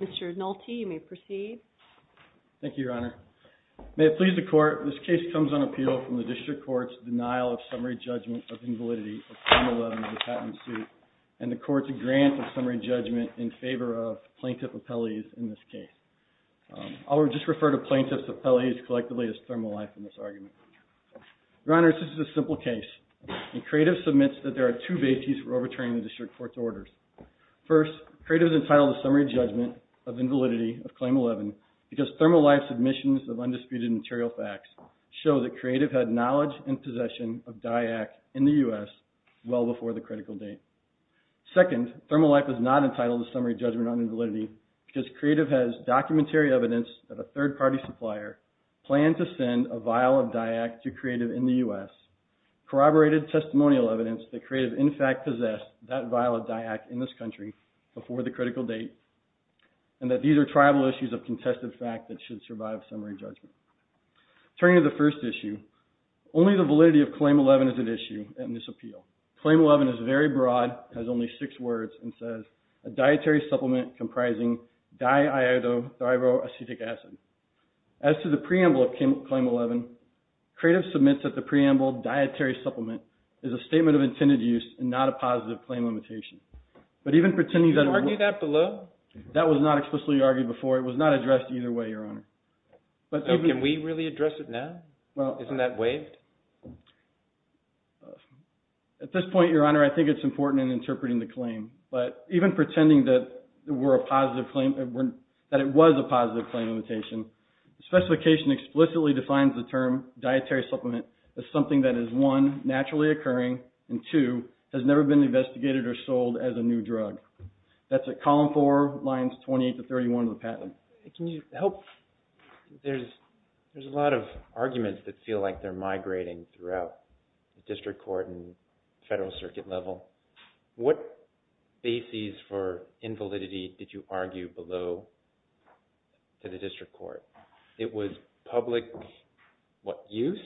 Mr. Nolte, you may proceed. Thank you, Your Honor. May it please the Court, this case comes on appeal from the District Court's denial of summary judgment of invalidity of Claim 11, the patent suit, and the Court's grant of summary judgment in favor of plaintiff appellees in this case. I'll just refer to plaintiffs' appellees collectively as thermal life in this argument. Your Honor, this is a simple case. Creative submits that there are two bases for overturning the District Court's orders. First, Creative is entitled to summary judgment of invalidity of Claim 11 because thermal life submissions of undisputed material facts show that Creative had knowledge and possession of DIAC in the U.S. well before the critical date. Second, thermal life is not entitled to summary judgment on invalidity because Creative has documentary evidence that a third-party supplier planned to send a vial of DIAC to Creative in the U.S., corroborated testimonial evidence that Creative in fact possessed that vial of DIAC in this country before the critical date, and that these are tribal issues of contested fact that should survive summary judgment. Turning to the first issue, only the validity of Claim 11 is at issue in this appeal. Claim 11 is very broad, has only six words, and says, a dietary supplement comprising diiodothyroacetic acid. As to the preamble of Claim 11, Creative submits that the preamble, dietary supplement, is a statement of intended use and not a positive claim limitation. But even pretending that it was... before, it was not addressed either way, Your Honor. Can we really address it now? Isn't that waived? At this point, Your Honor, I think it's important in interpreting the claim. But even pretending that it was a positive claim limitation, the specification explicitly defines the term dietary supplement as something that is, one, naturally occurring, and two, has never been used. Can you help... there's a lot of arguments that feel like they're migrating throughout the district court and federal circuit level. What bases for invalidity did you argue below to the district court? It was public, what, use?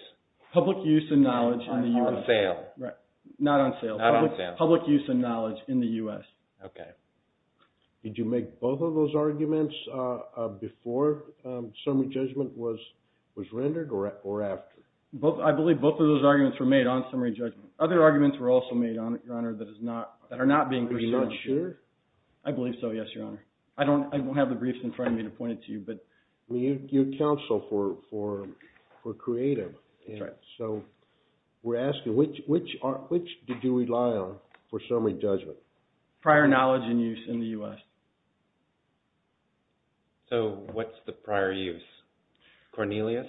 Public use and knowledge in the U.S. On sale. Right. Not on sale. Not on sale. Public use and knowledge in the U.S. Okay. Did you make both of those arguments before summary judgment was rendered or after? I believe both of those arguments were made on summary judgment. Other arguments were also made, Your Honor, that are not being presented. Are you not sure? I believe so, yes, Your Honor. I don't have the briefs in front of me to point it to you, but... You counsel for creative. That's right. So we're asking, which did you rely on for summary judgment? Prior knowledge and use in the U.S. So what's the prior use? Cornelius?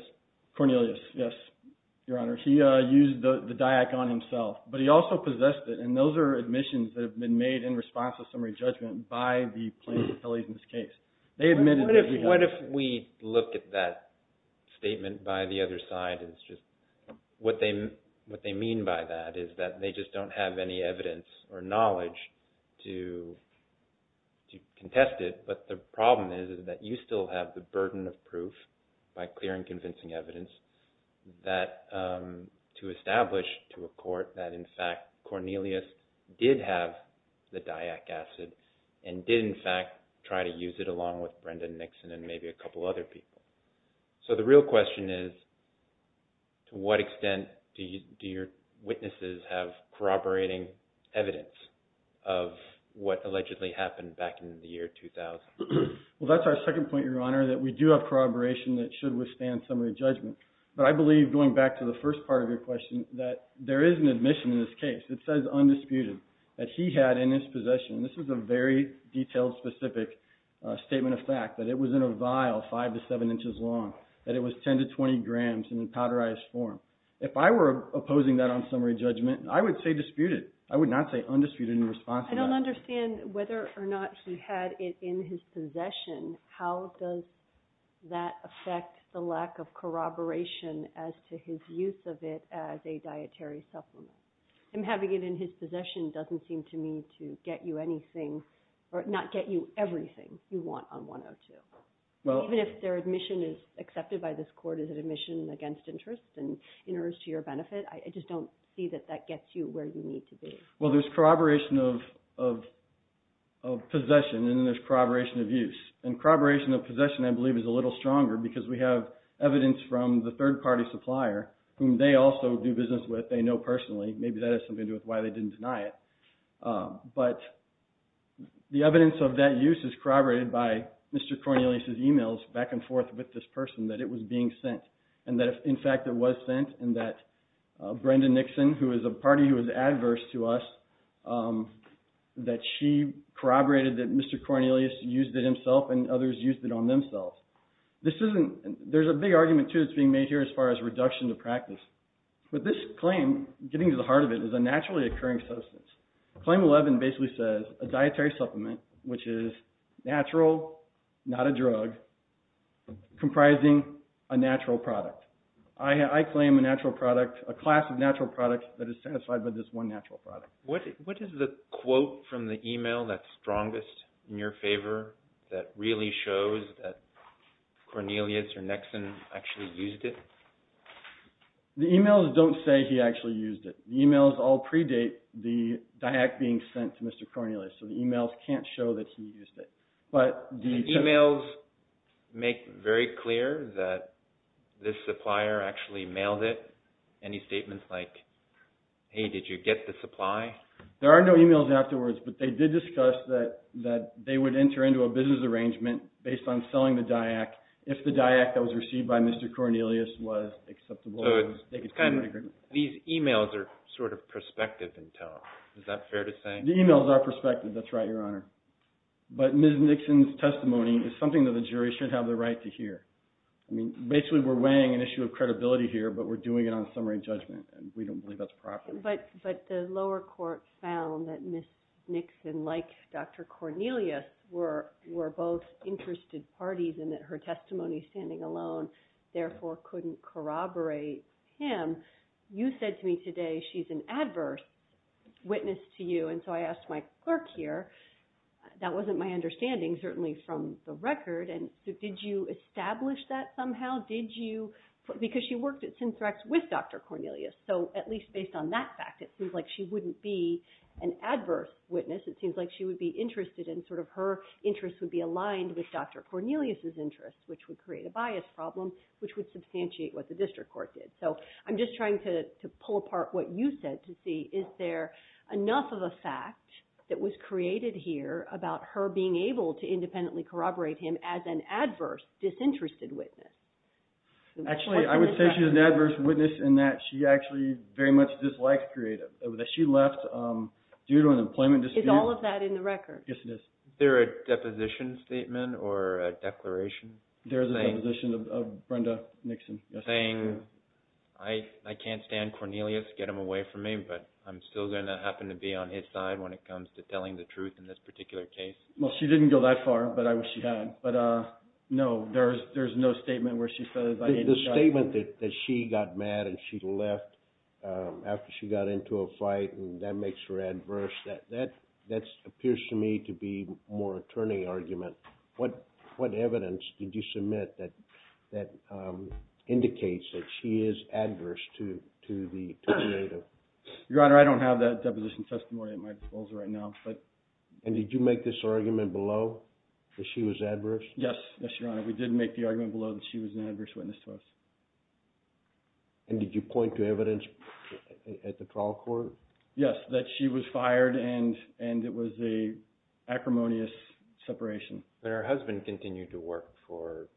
Cornelius, yes, Your Honor. He used the DIAC on himself, but he also possessed it, and those are admissions that have been made in response to summary judgment by the plaintiff's attorneys in this case. They admitted that he had... What if we look at that statement by the other side as just... what they mean by that is that they just don't have any evidence or knowledge to contest it, but the problem is that you still have the burden of proof by clearing convincing evidence to establish to a court that, in fact, Cornelius did have the DIAC acid and did, in fact, try to use it along with Brendan Nixon and maybe a couple other people. So the real question is, to what extent do your witnesses have corroborating evidence of what allegedly happened back in the year 2000? Well, that's our second point, Your Honor, that we do have corroboration that should withstand summary judgment. But I believe, going back to the first part of your question, that there is an admission in this case that says undisputed that he had in his possession, and this is a very detailed, specific statement of fact, that it was in a vial five to seven inches long, that it was 10 to 20 grams in a powderized form. If I were opposing that on summary judgment, I would say disputed. I would not say undisputed in response to that. I don't understand whether or not he had it in his possession. How does that affect the lack of corroboration as to his use of it as a dietary supplement? And having it in his possession doesn't seem to me to get you anything, or not get you everything you want on 102. Even if their admission is accepted by this court as an admission against interest and in urge to your benefit, I just don't see that that gets you where you need to be. Well, there's corroboration of possession, and there's corroboration of use. And corroboration of possession, I believe, is a little stronger because we have evidence from the third-party supplier, whom they also do business with, they know personally. Maybe that has something to do with why they didn't deny it. But the evidence of that use is corroborated by Mr. Cornelius' emails back and forth with this person, that it was being sent, and that in fact it was sent, and that Brenda Nixon, who is a party who is adverse to us, that she corroborated that Mr. Cornelius used it himself and others used it on themselves. There's a big argument, too, that's being made here as far as reduction to practice. But this claim, getting to the heart of it, is a naturally occurring substance. Claim 11 basically says, a dietary supplement, which is natural, not a drug, comprising a natural product. I claim a natural product, a class of natural products that is satisfied with this one natural product. What is the quote from the email that's strongest in your favor that really shows that Cornelius or Nixon actually used it? The emails don't say he actually used it. The emails all predate the DIAC being sent to Mr. Cornelius, so the emails can't show that he used it. But the emails make very clear that this supplier actually mailed it? Any statements like, hey, did you get the supply? There are no emails afterwards, but they did discuss that they would enter into a business arrangement based on selling the DIAC if the DIAC that was received by Mr. Cornelius was acceptable. So these emails are sort of perspective intel. Is that fair to say? The emails are perspective, that's right, Your Honor. But Ms. Nixon's testimony is something that the jury should have the right to hear. Basically, we're weighing an issue of credibility here, but we're doing it on summary judgment, and we don't believe that's proper. But the lower court found that Ms. Nixon, like Dr. Cornelius, were both interested parties and that her testimony standing alone therefore couldn't corroborate him. You said to me today she's an adverse witness to you, and so I asked my clerk here, that wasn't my understanding, certainly from the record, and did you establish that somehow? Because she worked at Synthrax with Dr. Cornelius, so at least based on that fact, it seems like she wouldn't be an adverse witness. It seems like she would be interested in sort of her interests would be aligned with Dr. Cornelius' interests, which would create a bias problem, which would substantiate what the district court did. So I'm just trying to pull apart what you said to see, is there enough of a fact that was created here about her being able to independently corroborate him as an adverse, disinterested witness? Actually, I would say she's an adverse witness in that she actually very much dislikes creative. That she left due to an employment dispute. Is all of that in the record? Yes, it is. Is there a deposition statement or a declaration? There is a deposition of Brenda Nixon. Saying, I can't stand Cornelius, get him away from me, but I'm still going to happen to be on his side when it comes to telling the truth in this particular case? Well, she didn't go that far, but I wish she had. But no, there's no statement where she says, I didn't... The statement that she got mad and she left after she got into a fight and that makes her adverse, that appears to me to be more a turning argument. What evidence did you submit that indicates that she is adverse to the creative? Your Honor, I don't have that deposition testimony at my disposal right now, but... And did you make this argument below that she was adverse? Yes, yes, Your Honor. We did make the argument below that she was an adverse witness to us. And did you point to evidence at the trial court? Yes, that she was fired and it was a acrimonious separation. But her husband continued to work for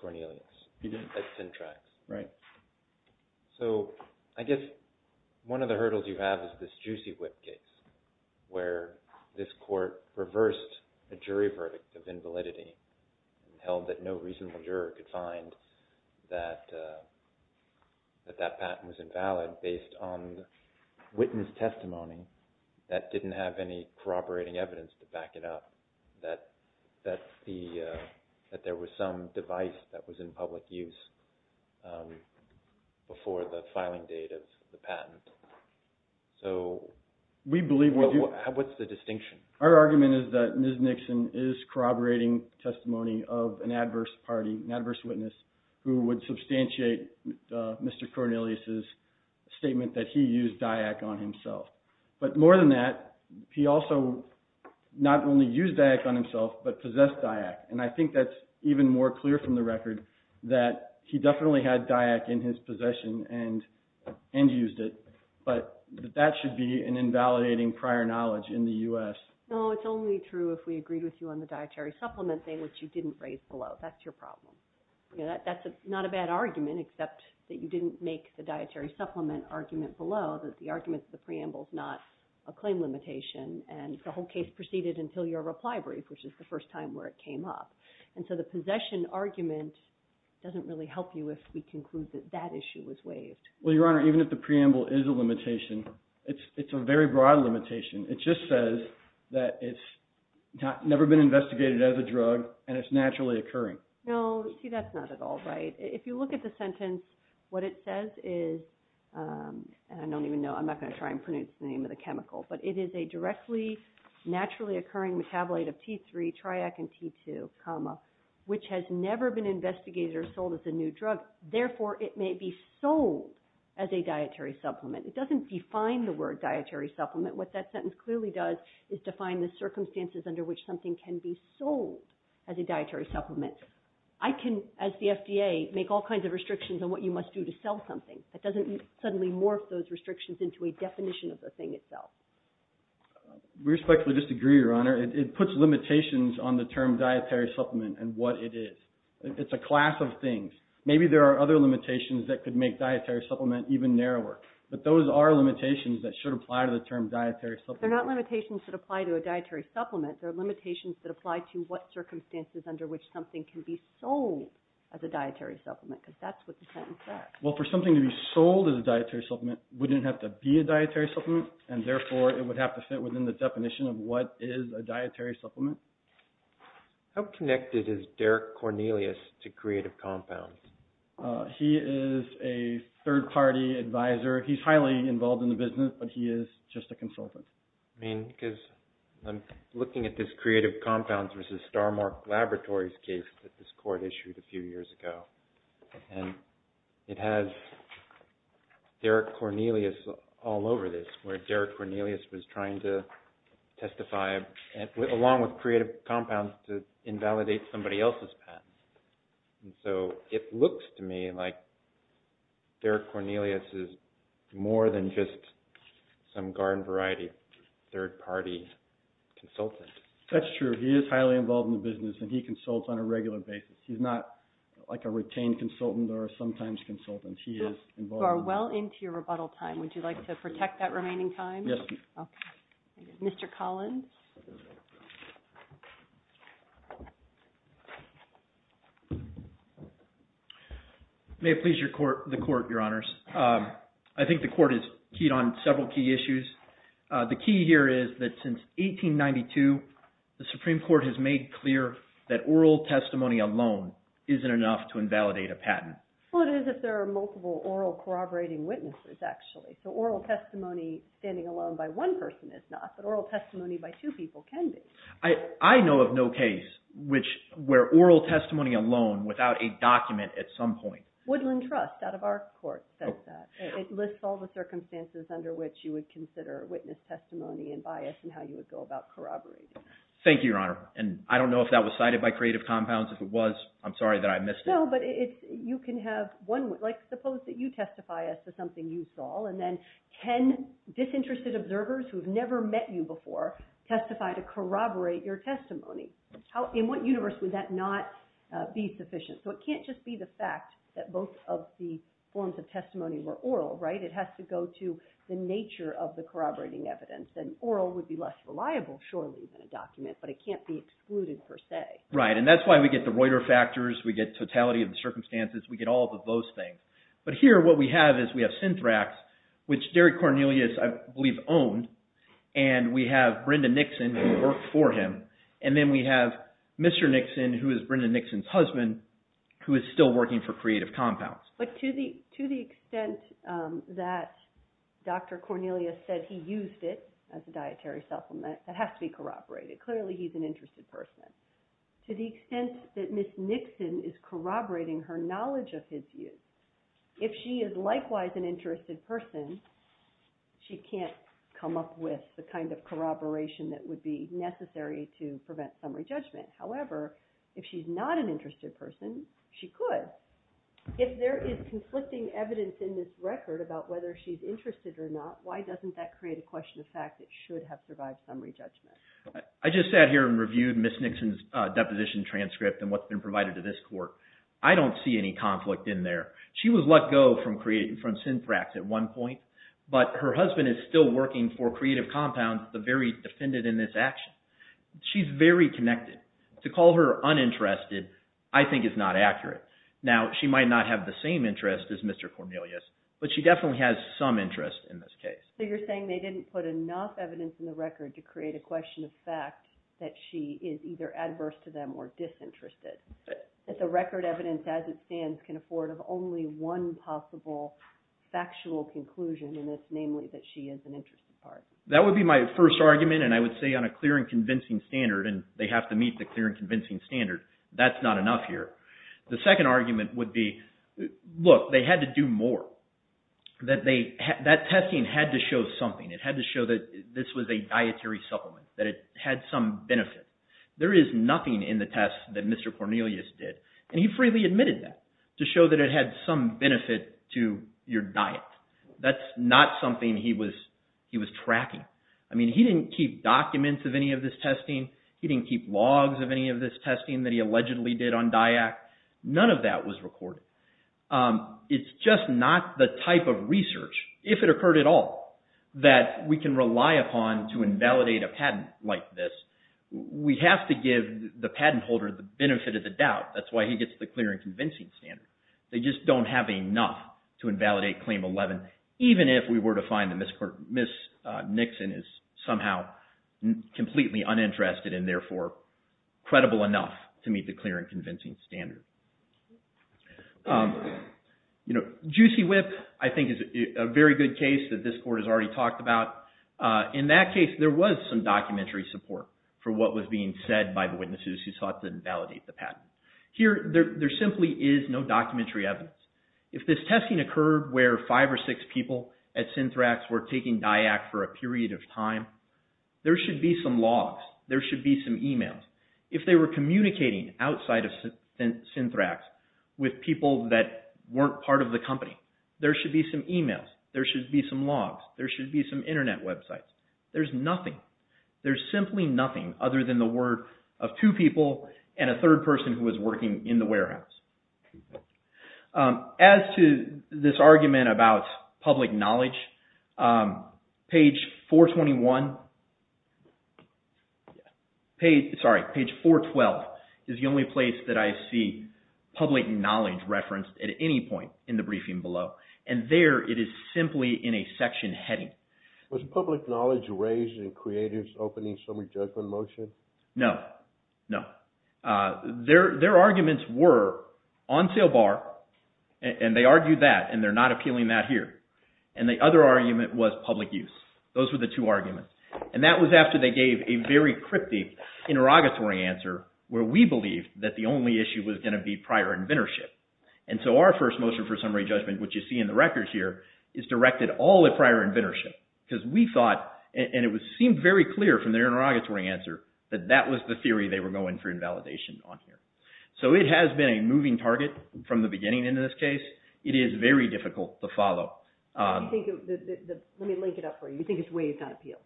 Cornelius at Cintrax. Right. So, I guess one of the hurdles you have is this juicy whip case where this court reversed a jury verdict of invalidity and held that no reasonable juror could find that that patent was invalid based on witness testimony that didn't have any corroborating evidence to before the filing date of the patent. So, what's the distinction? Our argument is that Ms. Nixon is corroborating testimony of an adverse party, an adverse witness who would substantiate Mr. Cornelius' statement that he used DIAC on himself. But more than that, he also not only used DIAC on himself, but possessed DIAC. And I think that's even more clear from the record that he definitely had DIAC in his possession and used it. But that should be an invalidating prior knowledge in the U.S. No, it's only true if we agreed with you on the dietary supplement thing, which you didn't raise below. That's your problem. That's not a bad argument, except that you didn't make the dietary supplement argument below that the argument of the preamble is not a claim limitation and the whole case proceeded until your reply brief, which is the first time where it came up. And so the possession argument doesn't really help you if we conclude that that issue was waived. Well, Your Honor, even if the preamble is a limitation, it's a very broad limitation. It just says that it's never been investigated as a drug and it's naturally occurring. No, see, that's not at all right. If you look at the sentence, what it says is, and I don't even know, I'm not going to try and pronounce the name of the chemical, but it is a directly naturally occurring metabolite of T3, TRIAC, and T2, comma, which has never been investigated or sold as a new drug, therefore it may be sold as a dietary supplement. It doesn't define the word dietary supplement. What that sentence clearly does is define the circumstances under which something can be sold as a dietary supplement. I can, as the FDA, make all kinds of restrictions on what you must do to sell something. It doesn't suddenly morph those restrictions into a definition of the thing itself. We respectfully disagree, Your Honor. It puts limitations on the term dietary supplement and what it is. It's a class of things. Maybe there are other limitations that could make dietary supplement even narrower, but those are limitations that should apply to the term dietary supplement. They're not limitations that apply to a dietary supplement. They're limitations that apply to what circumstances under which something can be sold as a dietary supplement, because that's what the sentence says. Well, for something to be sold as a dietary supplement, it wouldn't have to be a dietary supplement, and therefore it would have to fit within the definition of what is a dietary supplement. How connected is Derek Cornelius to Creative Compounds? He is a third-party advisor. He's highly involved in the business, but he is just a consultant. I mean, because I'm looking at this Creative Compounds v. Starmark Laboratories case that this court issued a few years ago, and it has Derek Cornelius all over this, where Derek Cornelius was trying to testify, along with Creative Compounds, to invalidate somebody else's patent. It looks to me like Derek Cornelius is more than just some garden-variety third-party consultant. That's true. He is highly involved in the business, and he consults on a regular basis. He's not like a retained consultant or a sometimes consultant. He is involved in the business. You are well into your rebuttal time. Would you like to protect that remaining time? Yes. Okay. Mr. Collins? May it please the Court, Your Honors. I think the Court is keyed on several key issues. The key here is that since 1892, the Supreme Court has made clear that oral testimony alone isn't enough to invalidate a patent. Well, it is if there are multiple oral corroborating witnesses, actually. So oral testimony standing alone by one person is not, but oral testimony by two people can be. I know of no case where oral testimony alone, without a document at some point... Woodland Trust, out of our court, says that. It lists all the circumstances under which you would consider witness testimony and bias and how you would go about corroborating. Thank you, Your Honor. And I don't know if that was cited by Creative Compounds. If it was, I'm sorry that I missed it. No, but it's... You can have one... Like, suppose that you testify as to something you saw, and then ten disinterested observers who have never met you before testify to corroborate your testimony. In what universe would that not be sufficient? So it can't just be the fact that both of the forms of testimony were oral, right? It has to go to the nature of the corroborating evidence. And oral would be less reliable, surely, than a document, but it can't be excluded per se. Right, and that's why we get the Reuter factors, we get totality of the circumstances, we get all of those things. But here, what we have is we have Synthrax, which Derrick Cornelius, I believe, owned, and we have Brenda Nixon, who worked for him, and then we have Mr. Nixon, who is Brenda who is still working for Creative Compounds. But to the extent that Dr. Cornelius said he used it as a dietary supplement, that has to be corroborated. Clearly, he's an interested person. To the extent that Ms. Nixon is corroborating her knowledge of his use, if she is likewise an interested person, she can't come up with the kind of corroboration that would be necessary to prevent summary judgment. However, if she's not an interested person, she could. If there is conflicting evidence in this record about whether she's interested or not, why doesn't that create a question of fact that should have survived summary judgment? I just sat here and reviewed Ms. Nixon's deposition transcript and what's been provided to this court. I don't see any conflict in there. She was let go from Synthrax at one point, but her husband is still working for Creative Compounds, the very defendant in this action. She's very connected. To call her uninterested, I think is not accurate. Now, she might not have the same interest as Mr. Cornelius, but she definitely has some interest in this case. So you're saying they didn't put enough evidence in the record to create a question of fact that she is either adverse to them or disinterested. That the record evidence as it stands can afford of only one possible factual conclusion in this, namely that she is an interested person. That would be my first argument, and I would say on a clear and convincing standard, and they have to meet the clear and convincing standard, that's not enough here. The second argument would be, look, they had to do more. That testing had to show something. It had to show that this was a dietary supplement, that it had some benefit. There is nothing in the test that Mr. Cornelius did, and he freely admitted that, to show that it had some benefit to your diet. That's not something he was tracking. I mean, he didn't keep documents of any of this testing. He didn't keep logs of any of this testing that he allegedly did on DIAC. None of that was recorded. It's just not the type of research, if it occurred at all, that we can rely upon to invalidate a patent like this. We have to give the patent holder the benefit of the doubt. That's why he gets the clear and convincing standard. They just don't have enough to invalidate Claim 11, even if we were to find that Ms. Nixon is somehow completely uninterested and therefore credible enough to meet the clear and convincing standard. Juicy Whip, I think, is a very good case that this Court has already talked about. In that case, there was some documentary support for what was being said by the witnesses who sought to invalidate the patent. Here, there simply is no documentary evidence. If this testing occurred where five or six people at Synthrax were taking DIAC for a period of time, there should be some logs. There should be some emails. If they were communicating outside of Synthrax with people that weren't part of the company, there should be some emails. There should be some logs. There should be some internet websites. There's nothing. There's simply nothing other than the word of two people and a third person who was working in the warehouse. As to this argument about public knowledge, page 421 – sorry, page 412 is the only place that I see public knowledge referenced at any point in the briefing below. And there, it is simply in a section heading. Was public knowledge raised in creators opening summary judgment motion? No. No. Their arguments were on sale bar, and they argued that, and they're not appealing that here. And the other argument was public use. Those were the two arguments. And that was after they gave a very cryptic interrogatory answer where we believed that the only issue was going to be prior inventorship. And so our first motion for summary judgment, which you see in the records here, is directed all at prior inventorship. Because we thought, and it seemed very clear from their interrogatory answer, that that was the theory they were going for invalidation on here. So, it has been a moving target from the beginning into this case. It is very difficult to follow. Let me link it up for you. You think it's waived on appeal?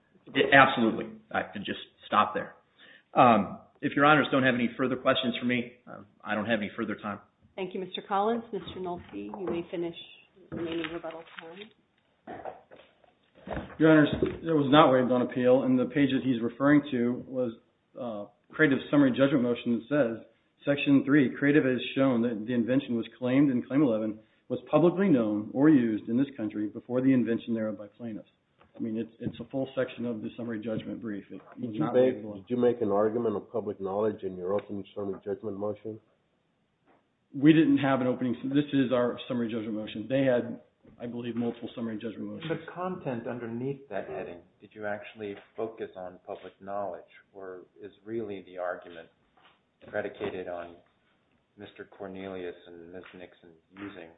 Absolutely. I can just stop there. If your honors don't have any further questions for me, I don't have any further time. Thank you, Mr. Collins. Mr. Nolte, you may finish your main rebuttal time. Your honors, it was not waived on appeal. And the page that he's referring to was Creative's summary judgment motion that says, Section 3, Creative has shown that the invention was claimed in Claim 11 was publicly known or used in this country before the invention thereof by plaintiffs. I mean, it's a full section of the summary judgment brief. Did you make an argument of public knowledge in your opening summary judgment motion? We didn't have an opening. This is our summary judgment motion. They had, I believe, multiple summary judgment motions. The content underneath that heading, did you actually focus on public knowledge, or is really the argument predicated on Mr. Cornelius and Ms. Nixon using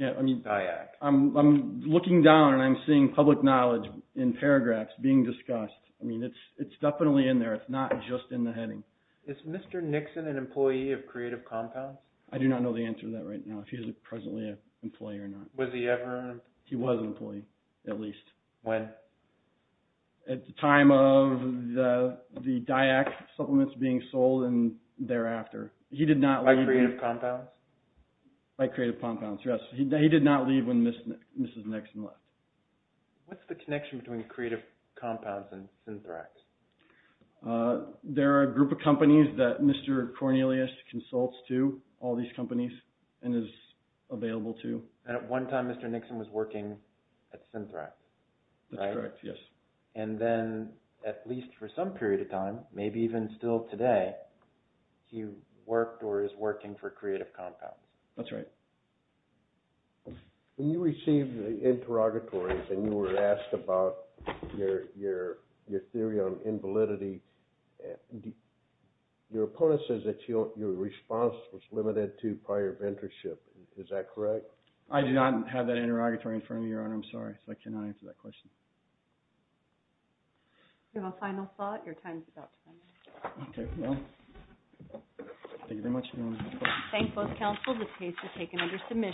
DIAC? I'm looking down and I'm seeing public knowledge in paragraphs being discussed. I mean, it's definitely in there. It's not just in the heading. Is Mr. Nixon an employee of Creative Compounds? I do not know the answer to that right now. I don't know if he's presently an employee or not. Was he ever? He was an employee, at least. When? At the time of the DIAC supplements being sold and thereafter. He did not leave. By Creative Compounds? By Creative Compounds, yes. He did not leave when Mrs. Nixon left. What's the connection between Creative Compounds and Synthrax? There are a group of companies that Mr. Cornelius consults to, all these companies, and is available to. And at one time, Mr. Nixon was working at Synthrax, right? Synthrax, yes. And then, at least for some period of time, maybe even still today, he worked or is working for Creative Compounds. That's right. When you received the interrogatories and you were asked about your theory on invalidity, your opponent says that your response was limited to prior mentorship. Is that correct? I do not have that interrogatory in front of me, Your Honor. I'm sorry. I cannot answer that question. Do you have a final thought? Okay. Thank you very much, Your Honor. Thank both counsels. This case is taken under submission.